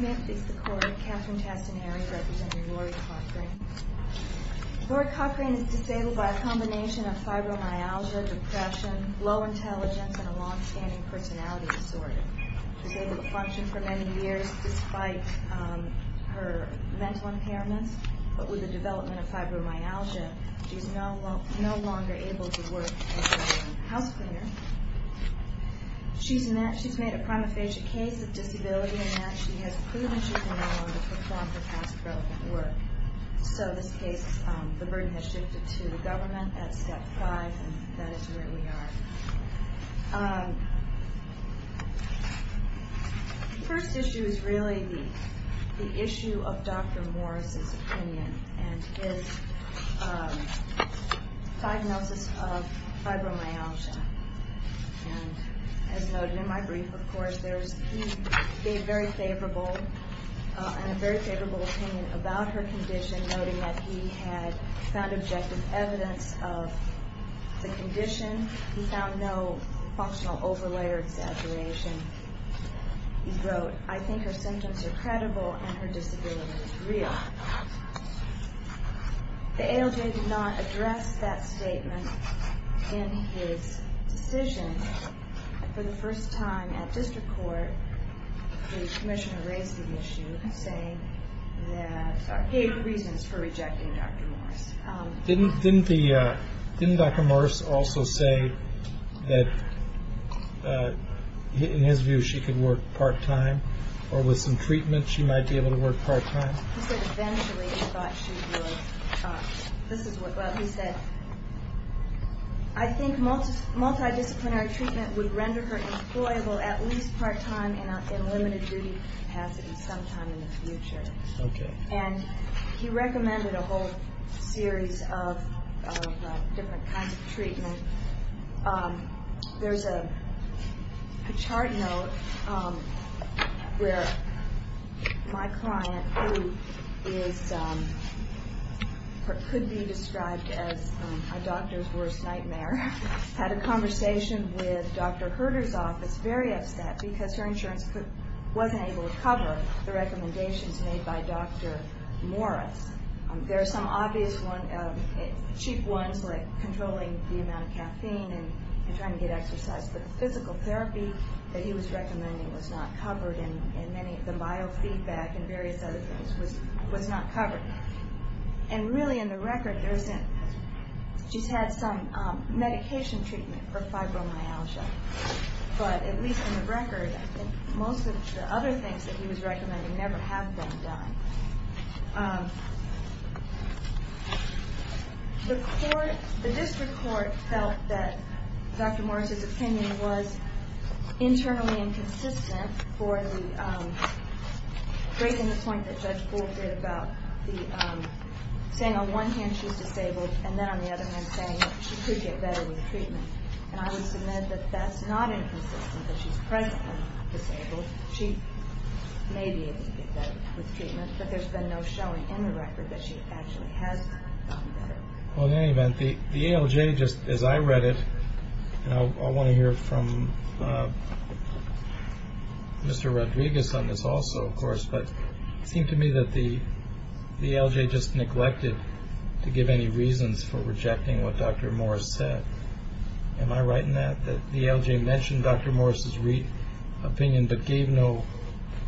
May I please support Catherine Tassinari, representing Lori Cochrane. Lori Cochrane is disabled by a combination of fibromyalgia, depression, low intelligence, and a long-standing personality disorder. She was able to function for many years despite her mental impairments, but with the development of fibromyalgia, she is no longer able to work as a house cleaner. She's made a prima facie case of disability in that she has proven she can no longer perform her past relevant work. So this case, the burden has shifted to the government at step five, and that is where we are. The first issue is really the issue of Dr. Morris' opinion and his diagnosis of fibromyalgia. As noted in my brief, of course, he gave a very favorable opinion about her condition, noting that he had found objective evidence of the condition. He found no functional overlay or exaggeration. He wrote, I think her symptoms are credible and her disability is real. The ALJ did not address that statement in his decision. For the first time at district court, the commissioner raised the issue, saying that he had reasons for rejecting Dr. Morris. Didn't Dr. Morris also say that in his view she could work part-time, or with some treatment she might be able to work part-time? He said eventually he thought she would. This is what he said. I think multidisciplinary treatment would render her employable at least part-time in a limited duty capacity sometime in the future. And he recommended a whole series of different kinds of treatment. There's a chart note where my client, who could be described as a doctor's worst nightmare, had a conversation with Dr. Herter's office, very upset, because her insurance wasn't able to cover the recommendations made by Dr. Morris. There are some obvious cheap ones, like controlling the amount of caffeine and trying to get exercise, but the physical therapy that he was recommending was not covered, and the biofeedback and various other things was not covered. And really in the record, she's had some medication treatment for fibromyalgia. But at least in the record, I think most of the other things that he was recommending never have been done. The district court felt that Dr. Morris's opinion was internally inconsistent for breaking the point that Judge Bull did about saying on one hand she's disabled and then on the other hand saying that she could get better with treatment. And I would submit that that's not inconsistent, that she's presently disabled. She may be able to get better with treatment, but there's been no showing in the record that she actually has gotten better. Well, in any event, the ALJ, as I read it, and I want to hear from Mr. Rodriguez on this also, of course, but it seemed to me that the ALJ just neglected to give any reasons for rejecting what Dr. Morris said. Am I right in that, that the ALJ mentioned Dr. Morris's opinion but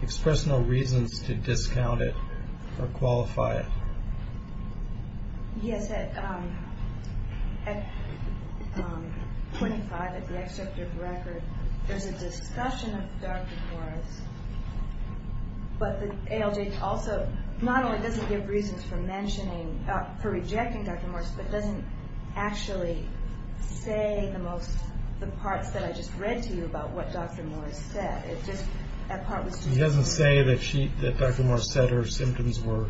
expressed no reasons to discount it or qualify it? Yes, at 25, at the excerpt of the record, there's a discussion of Dr. Morris, but the ALJ also not only doesn't give reasons for rejecting Dr. Morris, but doesn't actually say the parts that I just read to you about what Dr. Morris said. He doesn't say that Dr. Morris said her symptoms were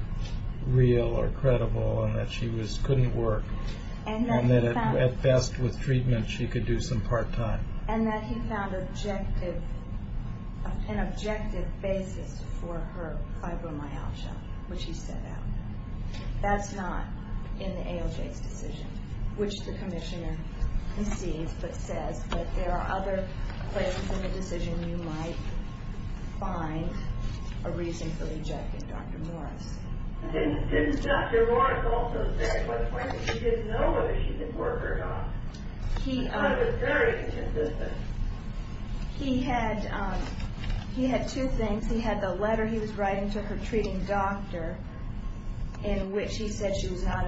real or credible and that she couldn't work and that at best with treatment she could do some part-time. And that he found an objective basis for her fibromyalgia, which he set out. That's not in the ALJ's decision, which the commissioner concedes but says, but there are other places in the decision you might find a reason for rejecting Dr. Morris. Didn't Dr. Morris also say at 25 that she didn't know whether she could work or not? That was very inconsistent. He had two things. He had the letter he was writing to her treating doctor in which he said she was not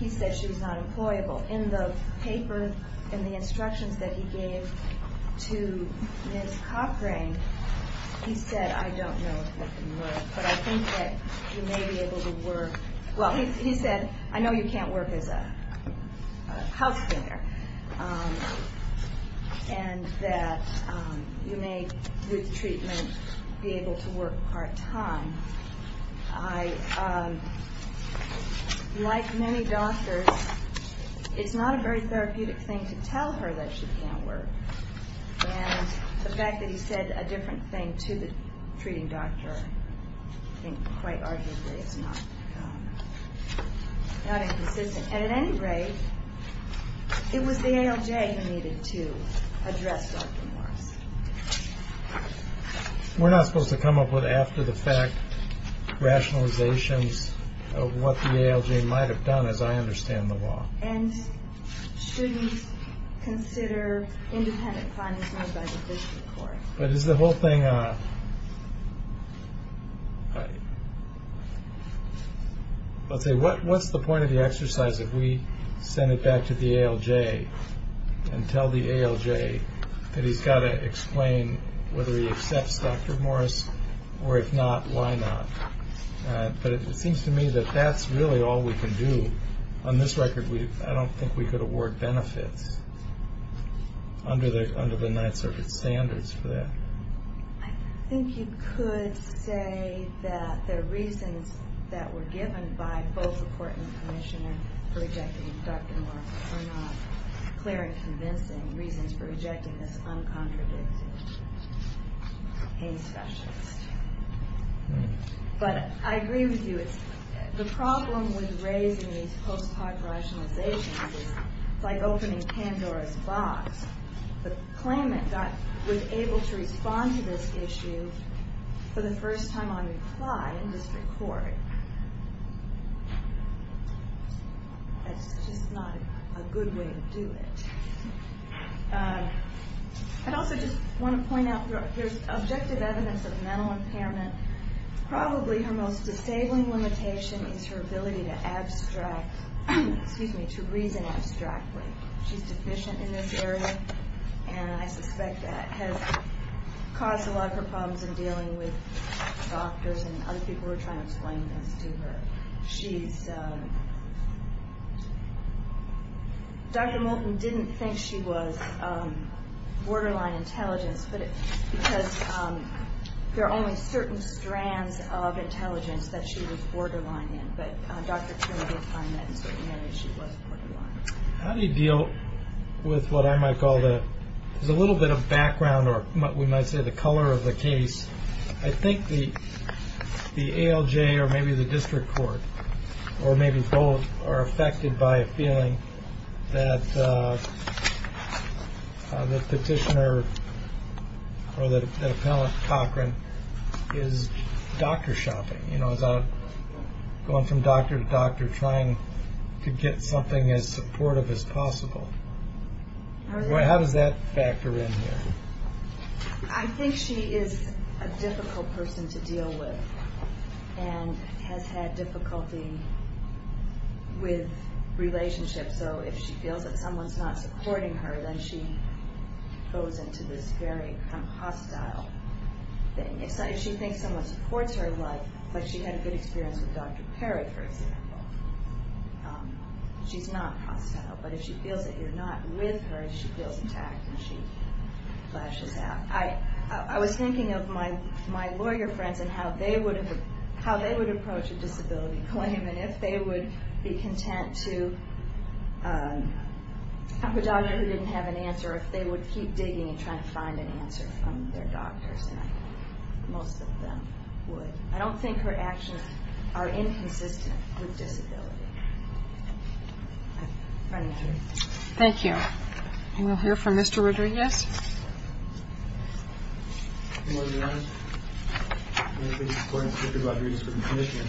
employable. In the paper, in the instructions that he gave to Ms. Cochrane, he said, I don't know if you can work, but I think that you may be able to work. Well, he said, I know you can't work as a house cleaner, and that you may, with treatment, be able to work part-time. I, like many doctors, it's not a very therapeutic thing to tell her that she can't work. And the fact that he said a different thing to the treating doctor, I think quite arguably it's not inconsistent. And at any rate, it was the ALJ who needed to address Dr. Morris. We're not supposed to come up with after-the-fact rationalizations of what the ALJ might have done, as I understand the law. And should we consider independent findings made by the district court? But is the whole thing a – let's say, what's the point of the exercise if we send it back to the ALJ and tell the ALJ that he's got to explain whether he accepts Dr. Morris, or if not, why not? But it seems to me that that's really all we can do. On this record, I don't think we could award benefits under the Ninth Circuit standards for that. I think you could say that the reasons that were given by both the court and the commissioner for rejecting Dr. Morris are not clear and convincing reasons for rejecting this uncontradicted pain specialist. But I agree with you. The problem with raising these post-part rationalizations is like opening Pandora's box. The claimant was able to respond to this issue for the first time on reply in district court. That's just not a good way to do it. I'd also just want to point out there's objective evidence of mental impairment. Probably her most disabling limitation is her ability to reason abstractly. She's deficient in this area, and I suspect that has caused a lot of her problems in dealing with doctors and other people who are trying to explain things to her. Dr. Moulton didn't think she was borderline intelligence because there are only certain strands of intelligence that she was borderline in, but Dr. Turner did find that in certain areas she was borderline. How do you deal with what I might call a little bit of background or we might say the color of the case? I think the ALJ or maybe the district court or maybe both are affected by a feeling that the petitioner or the appellant, Cochran, is doctor shopping. Going from doctor to doctor trying to get something as supportive as possible. How does that factor in here? I think she is a difficult person to deal with and has had difficulty with relationships. So if she feels that someone's not supporting her, then she goes into this very hostile thing. If she thinks someone supports her life, like she had a good experience with Dr. Perry, for example, she's not hostile, but if she feels that you're not with her, she feels attacked and she flashes out. I was thinking of my lawyer friends and how they would approach a disability claim and if they would be content to have a doctor who didn't have an answer or if they would keep digging and trying to find an answer from their doctors, and I think most of them would. I don't think her actions are inconsistent with disability. Thank you. Thank you. And we'll hear from Mr. Rodriguez. Good morning, Your Honor. My name is Gordon Rodriguez with the Commission.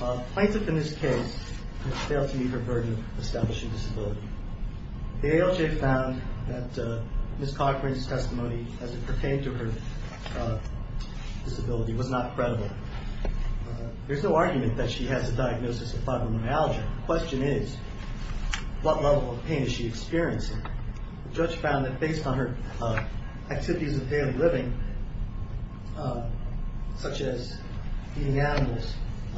A plaintiff in this case has failed to meet her burden of establishing disability. The ALJ found that Ms. Cochran's testimony as it pertained to her disability was not credible. There's no argument that she has a diagnosis of fibromyalgia. The question is, what level of pain is she experiencing? The judge found that based on her activities of daily living, such as feeding animals,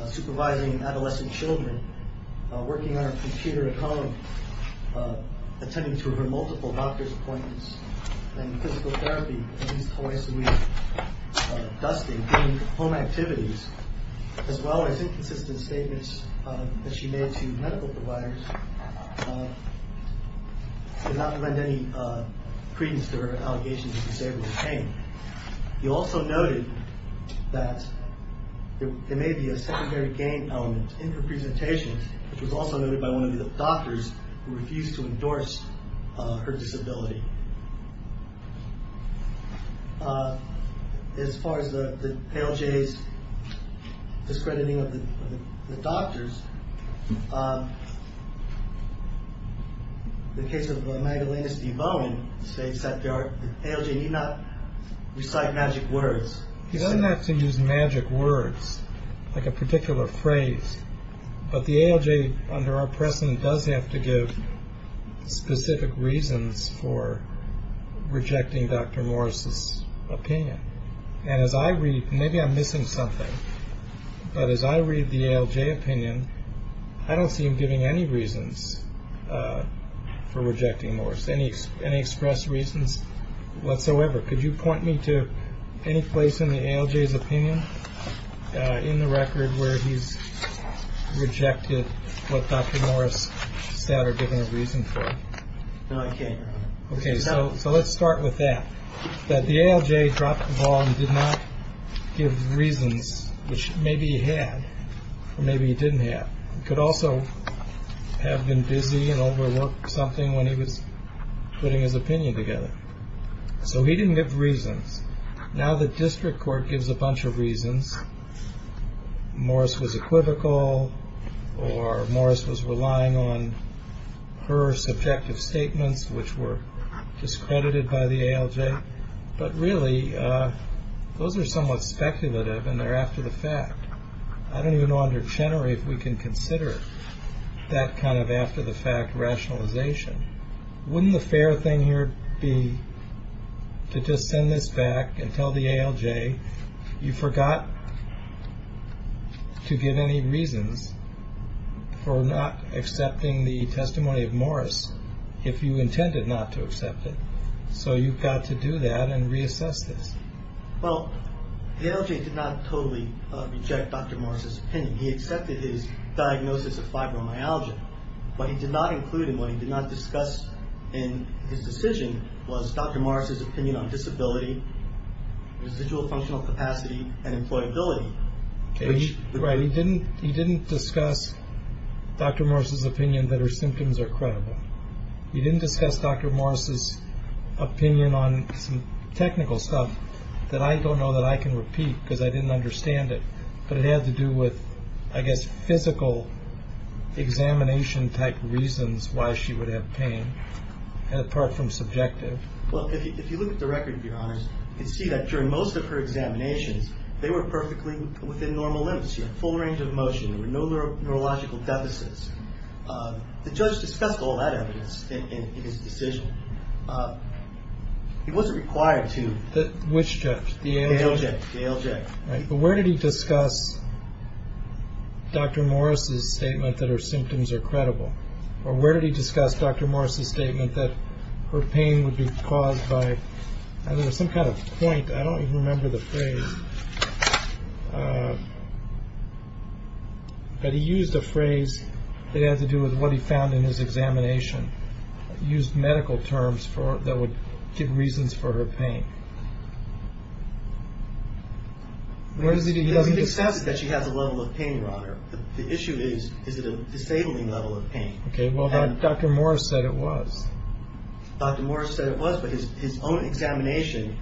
supervising adolescent children, working on her computer at home, attending to her multiple doctor's appointments, and physical therapy, at least twice a week, dusting, doing home activities, as well as inconsistent statements that she made to medical providers, did not lend any credence to her allegations of disabled pain. You also noted that there may be a secondary gain element in her presentation, which was also noted by one of the doctors who refused to endorse her disability. As far as the ALJ's discrediting of the doctors, the case of Magdalena Steve-Bowen states that the ALJ need not recite magic words. He doesn't have to use magic words, like a particular phrase, but the ALJ under our precedent does have to give specific reasons for rejecting Dr. Morris' opinion. And as I read, maybe I'm missing something, but as I read the ALJ opinion, I don't see him giving any reasons for rejecting Morris, any express reasons whatsoever. Could you point me to any place in the ALJ's opinion, in the record where he's rejected what Dr. Morris said or given a reason for? No, I can't. Okay, so let's start with that. That the ALJ dropped the ball and did not give reasons, which maybe he had or maybe he didn't have. He could also have been busy and overworked something when he was putting his opinion together. So he didn't give reasons. Now the district court gives a bunch of reasons. Morris was equivocal or Morris was relying on her subjective statements, which were discredited by the ALJ. But really, those are somewhat speculative and they're after the fact. I don't even know under Chenery if we can consider that kind of after-the-fact rationalization. Wouldn't the fair thing here be to just send this back and tell the ALJ, you forgot to give any reasons for not accepting the testimony of Morris, if you intended not to accept it. So you've got to do that and reassess this. Well, the ALJ did not totally reject Dr. Morris's opinion. He accepted his diagnosis of fibromyalgia, but he did not include in what he did not discuss in his decision was Dr. Morris's opinion on disability, residual functional capacity, and employability. He didn't discuss Dr. Morris's opinion that her symptoms are credible. He didn't discuss Dr. Morris's opinion on some technical stuff that I don't know that I can repeat because I didn't understand it, but it had to do with, I guess, physical examination-type reasons why she would have pain, apart from subjective. Well, if you look at the record, Your Honors, you can see that during most of her examinations, they were perfectly within normal limits. She had full range of motion. There were no neurological deficits. The judge discussed all that evidence in his decision. He wasn't required to. Which judge? The ALJ. The ALJ, right. But where did he discuss Dr. Morris's statement that her symptoms are credible? Or where did he discuss Dr. Morris's statement that her pain would be caused by, I don't know, some kind of point. I don't even remember the phrase. But he used a phrase that had to do with what he found in his examination. He used medical terms that would give reasons for her pain. He doesn't discuss that she has a level of pain, Your Honor. The issue is, is it a disabling level of pain? Okay, well, Dr. Morris said it was. Dr. Morris said it was, but his own examination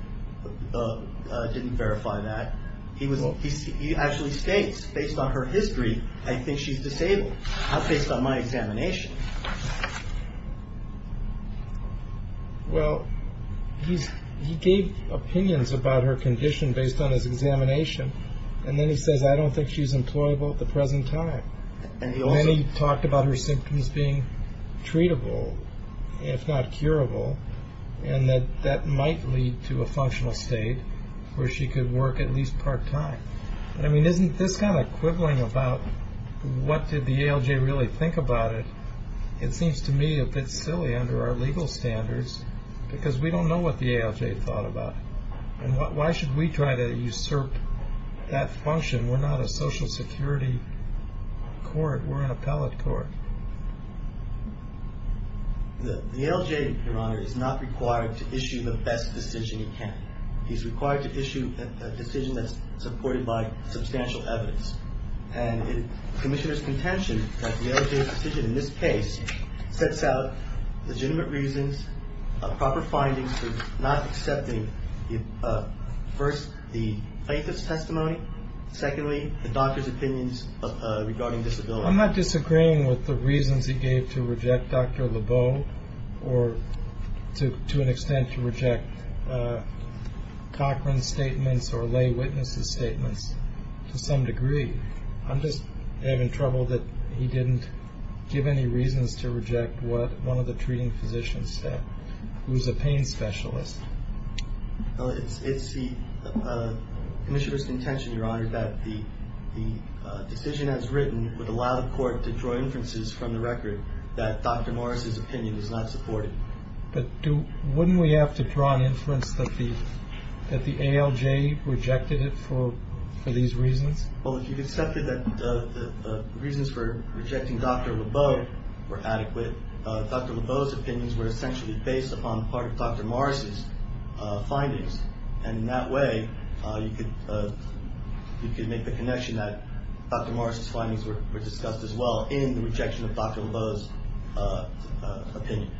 didn't verify that. He actually states, based on her history, I think she's disabled, based on my examination. Well, he gave opinions about her condition based on his examination, and then he says, I don't think she's employable at the present time. And he also talked about her symptoms being treatable, if not curable, and that that might lead to a functional state where she could work at least part-time. I mean, isn't this kind of quibbling about what did the ALJ really think about it, it seems to me a bit silly under our legal standards because we don't know what the ALJ thought about it. And why should we try to usurp that function? We're not a Social Security court. We're an appellate court. The ALJ, Your Honor, is not required to issue the best decision he can. He's required to issue a decision that's supported by substantial evidence. And the Commissioner's contention that the ALJ's decision in this case sets out legitimate reasons, proper findings for not accepting, first, the plaintiff's testimony, secondly, the doctor's opinions regarding disability. I'm not disagreeing with the reasons he gave to reject Dr. Lebeau or to an extent to reject Cochran's statements or lay witness's statements to some degree. I'm just having trouble that he didn't give any reasons to reject one of the treating physicians who's a pain specialist. It's the Commissioner's contention, Your Honor, that the decision as written would allow the court to draw inferences from the record that Dr. Morris's opinion is not supported. But wouldn't we have to draw an inference that the ALJ rejected it for these reasons? Well, if you've accepted that the reasons for rejecting Dr. Lebeau were adequate, Dr. Lebeau's opinions were essentially based upon part of Dr. Morris's findings. And in that way, you could make the connection that Dr. Morris's findings were discussed as well in the rejection of Dr. Lebeau's opinion.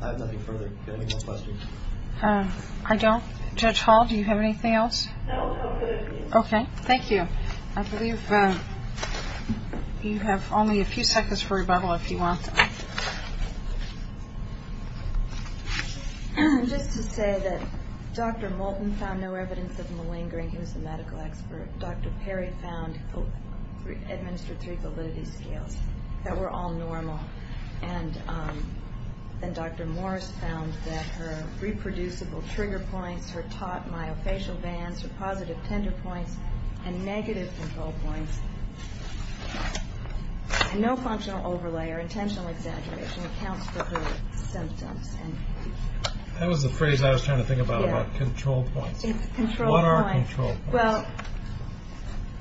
I have nothing further. Do you have any more questions? I don't. Judge Hall, do you have anything else? No, I'm good. Okay. Thank you. I believe you have only a few seconds for rebuttal if you want. Just to say that Dr. Moulton found no evidence of malingering. He was a medical expert. Dr. Perry administered three validity scales that were all normal. And Dr. Morris found that her reproducible trigger points, her taut myofascial bands, her positive tender points, and negative control points, and no functional overlay or intentional exaggeration accounts for her symptoms. That was the phrase I was trying to think about, about control points. Control points. What are control points? Well,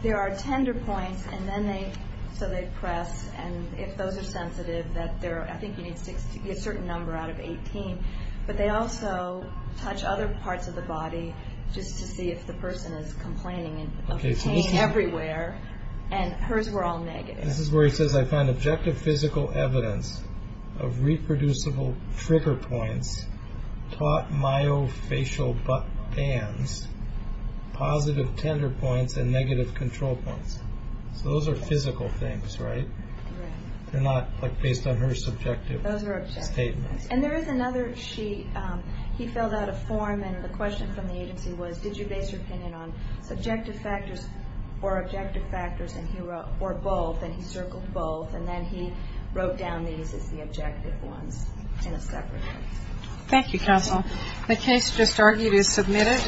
there are tender points, so they press. And if those are sensitive, I think you need to get a certain number out of 18. But they also touch other parts of the body just to see if the person is complaining of pain everywhere. And hers were all negative. This is where he says, I found objective physical evidence of reproducible trigger points, taut myofascial bands, positive tender points, and negative control points. So those are physical things, right? Right. They're not based on her subjective statements. Those are objective. And there is another sheet. He filled out a form, and the question from the agency was, did you base your opinion on subjective factors or objective factors or both? And he circled both. And then he wrote down these as the objective ones in a separate form. Thank you, counsel. The case just argued is submitted.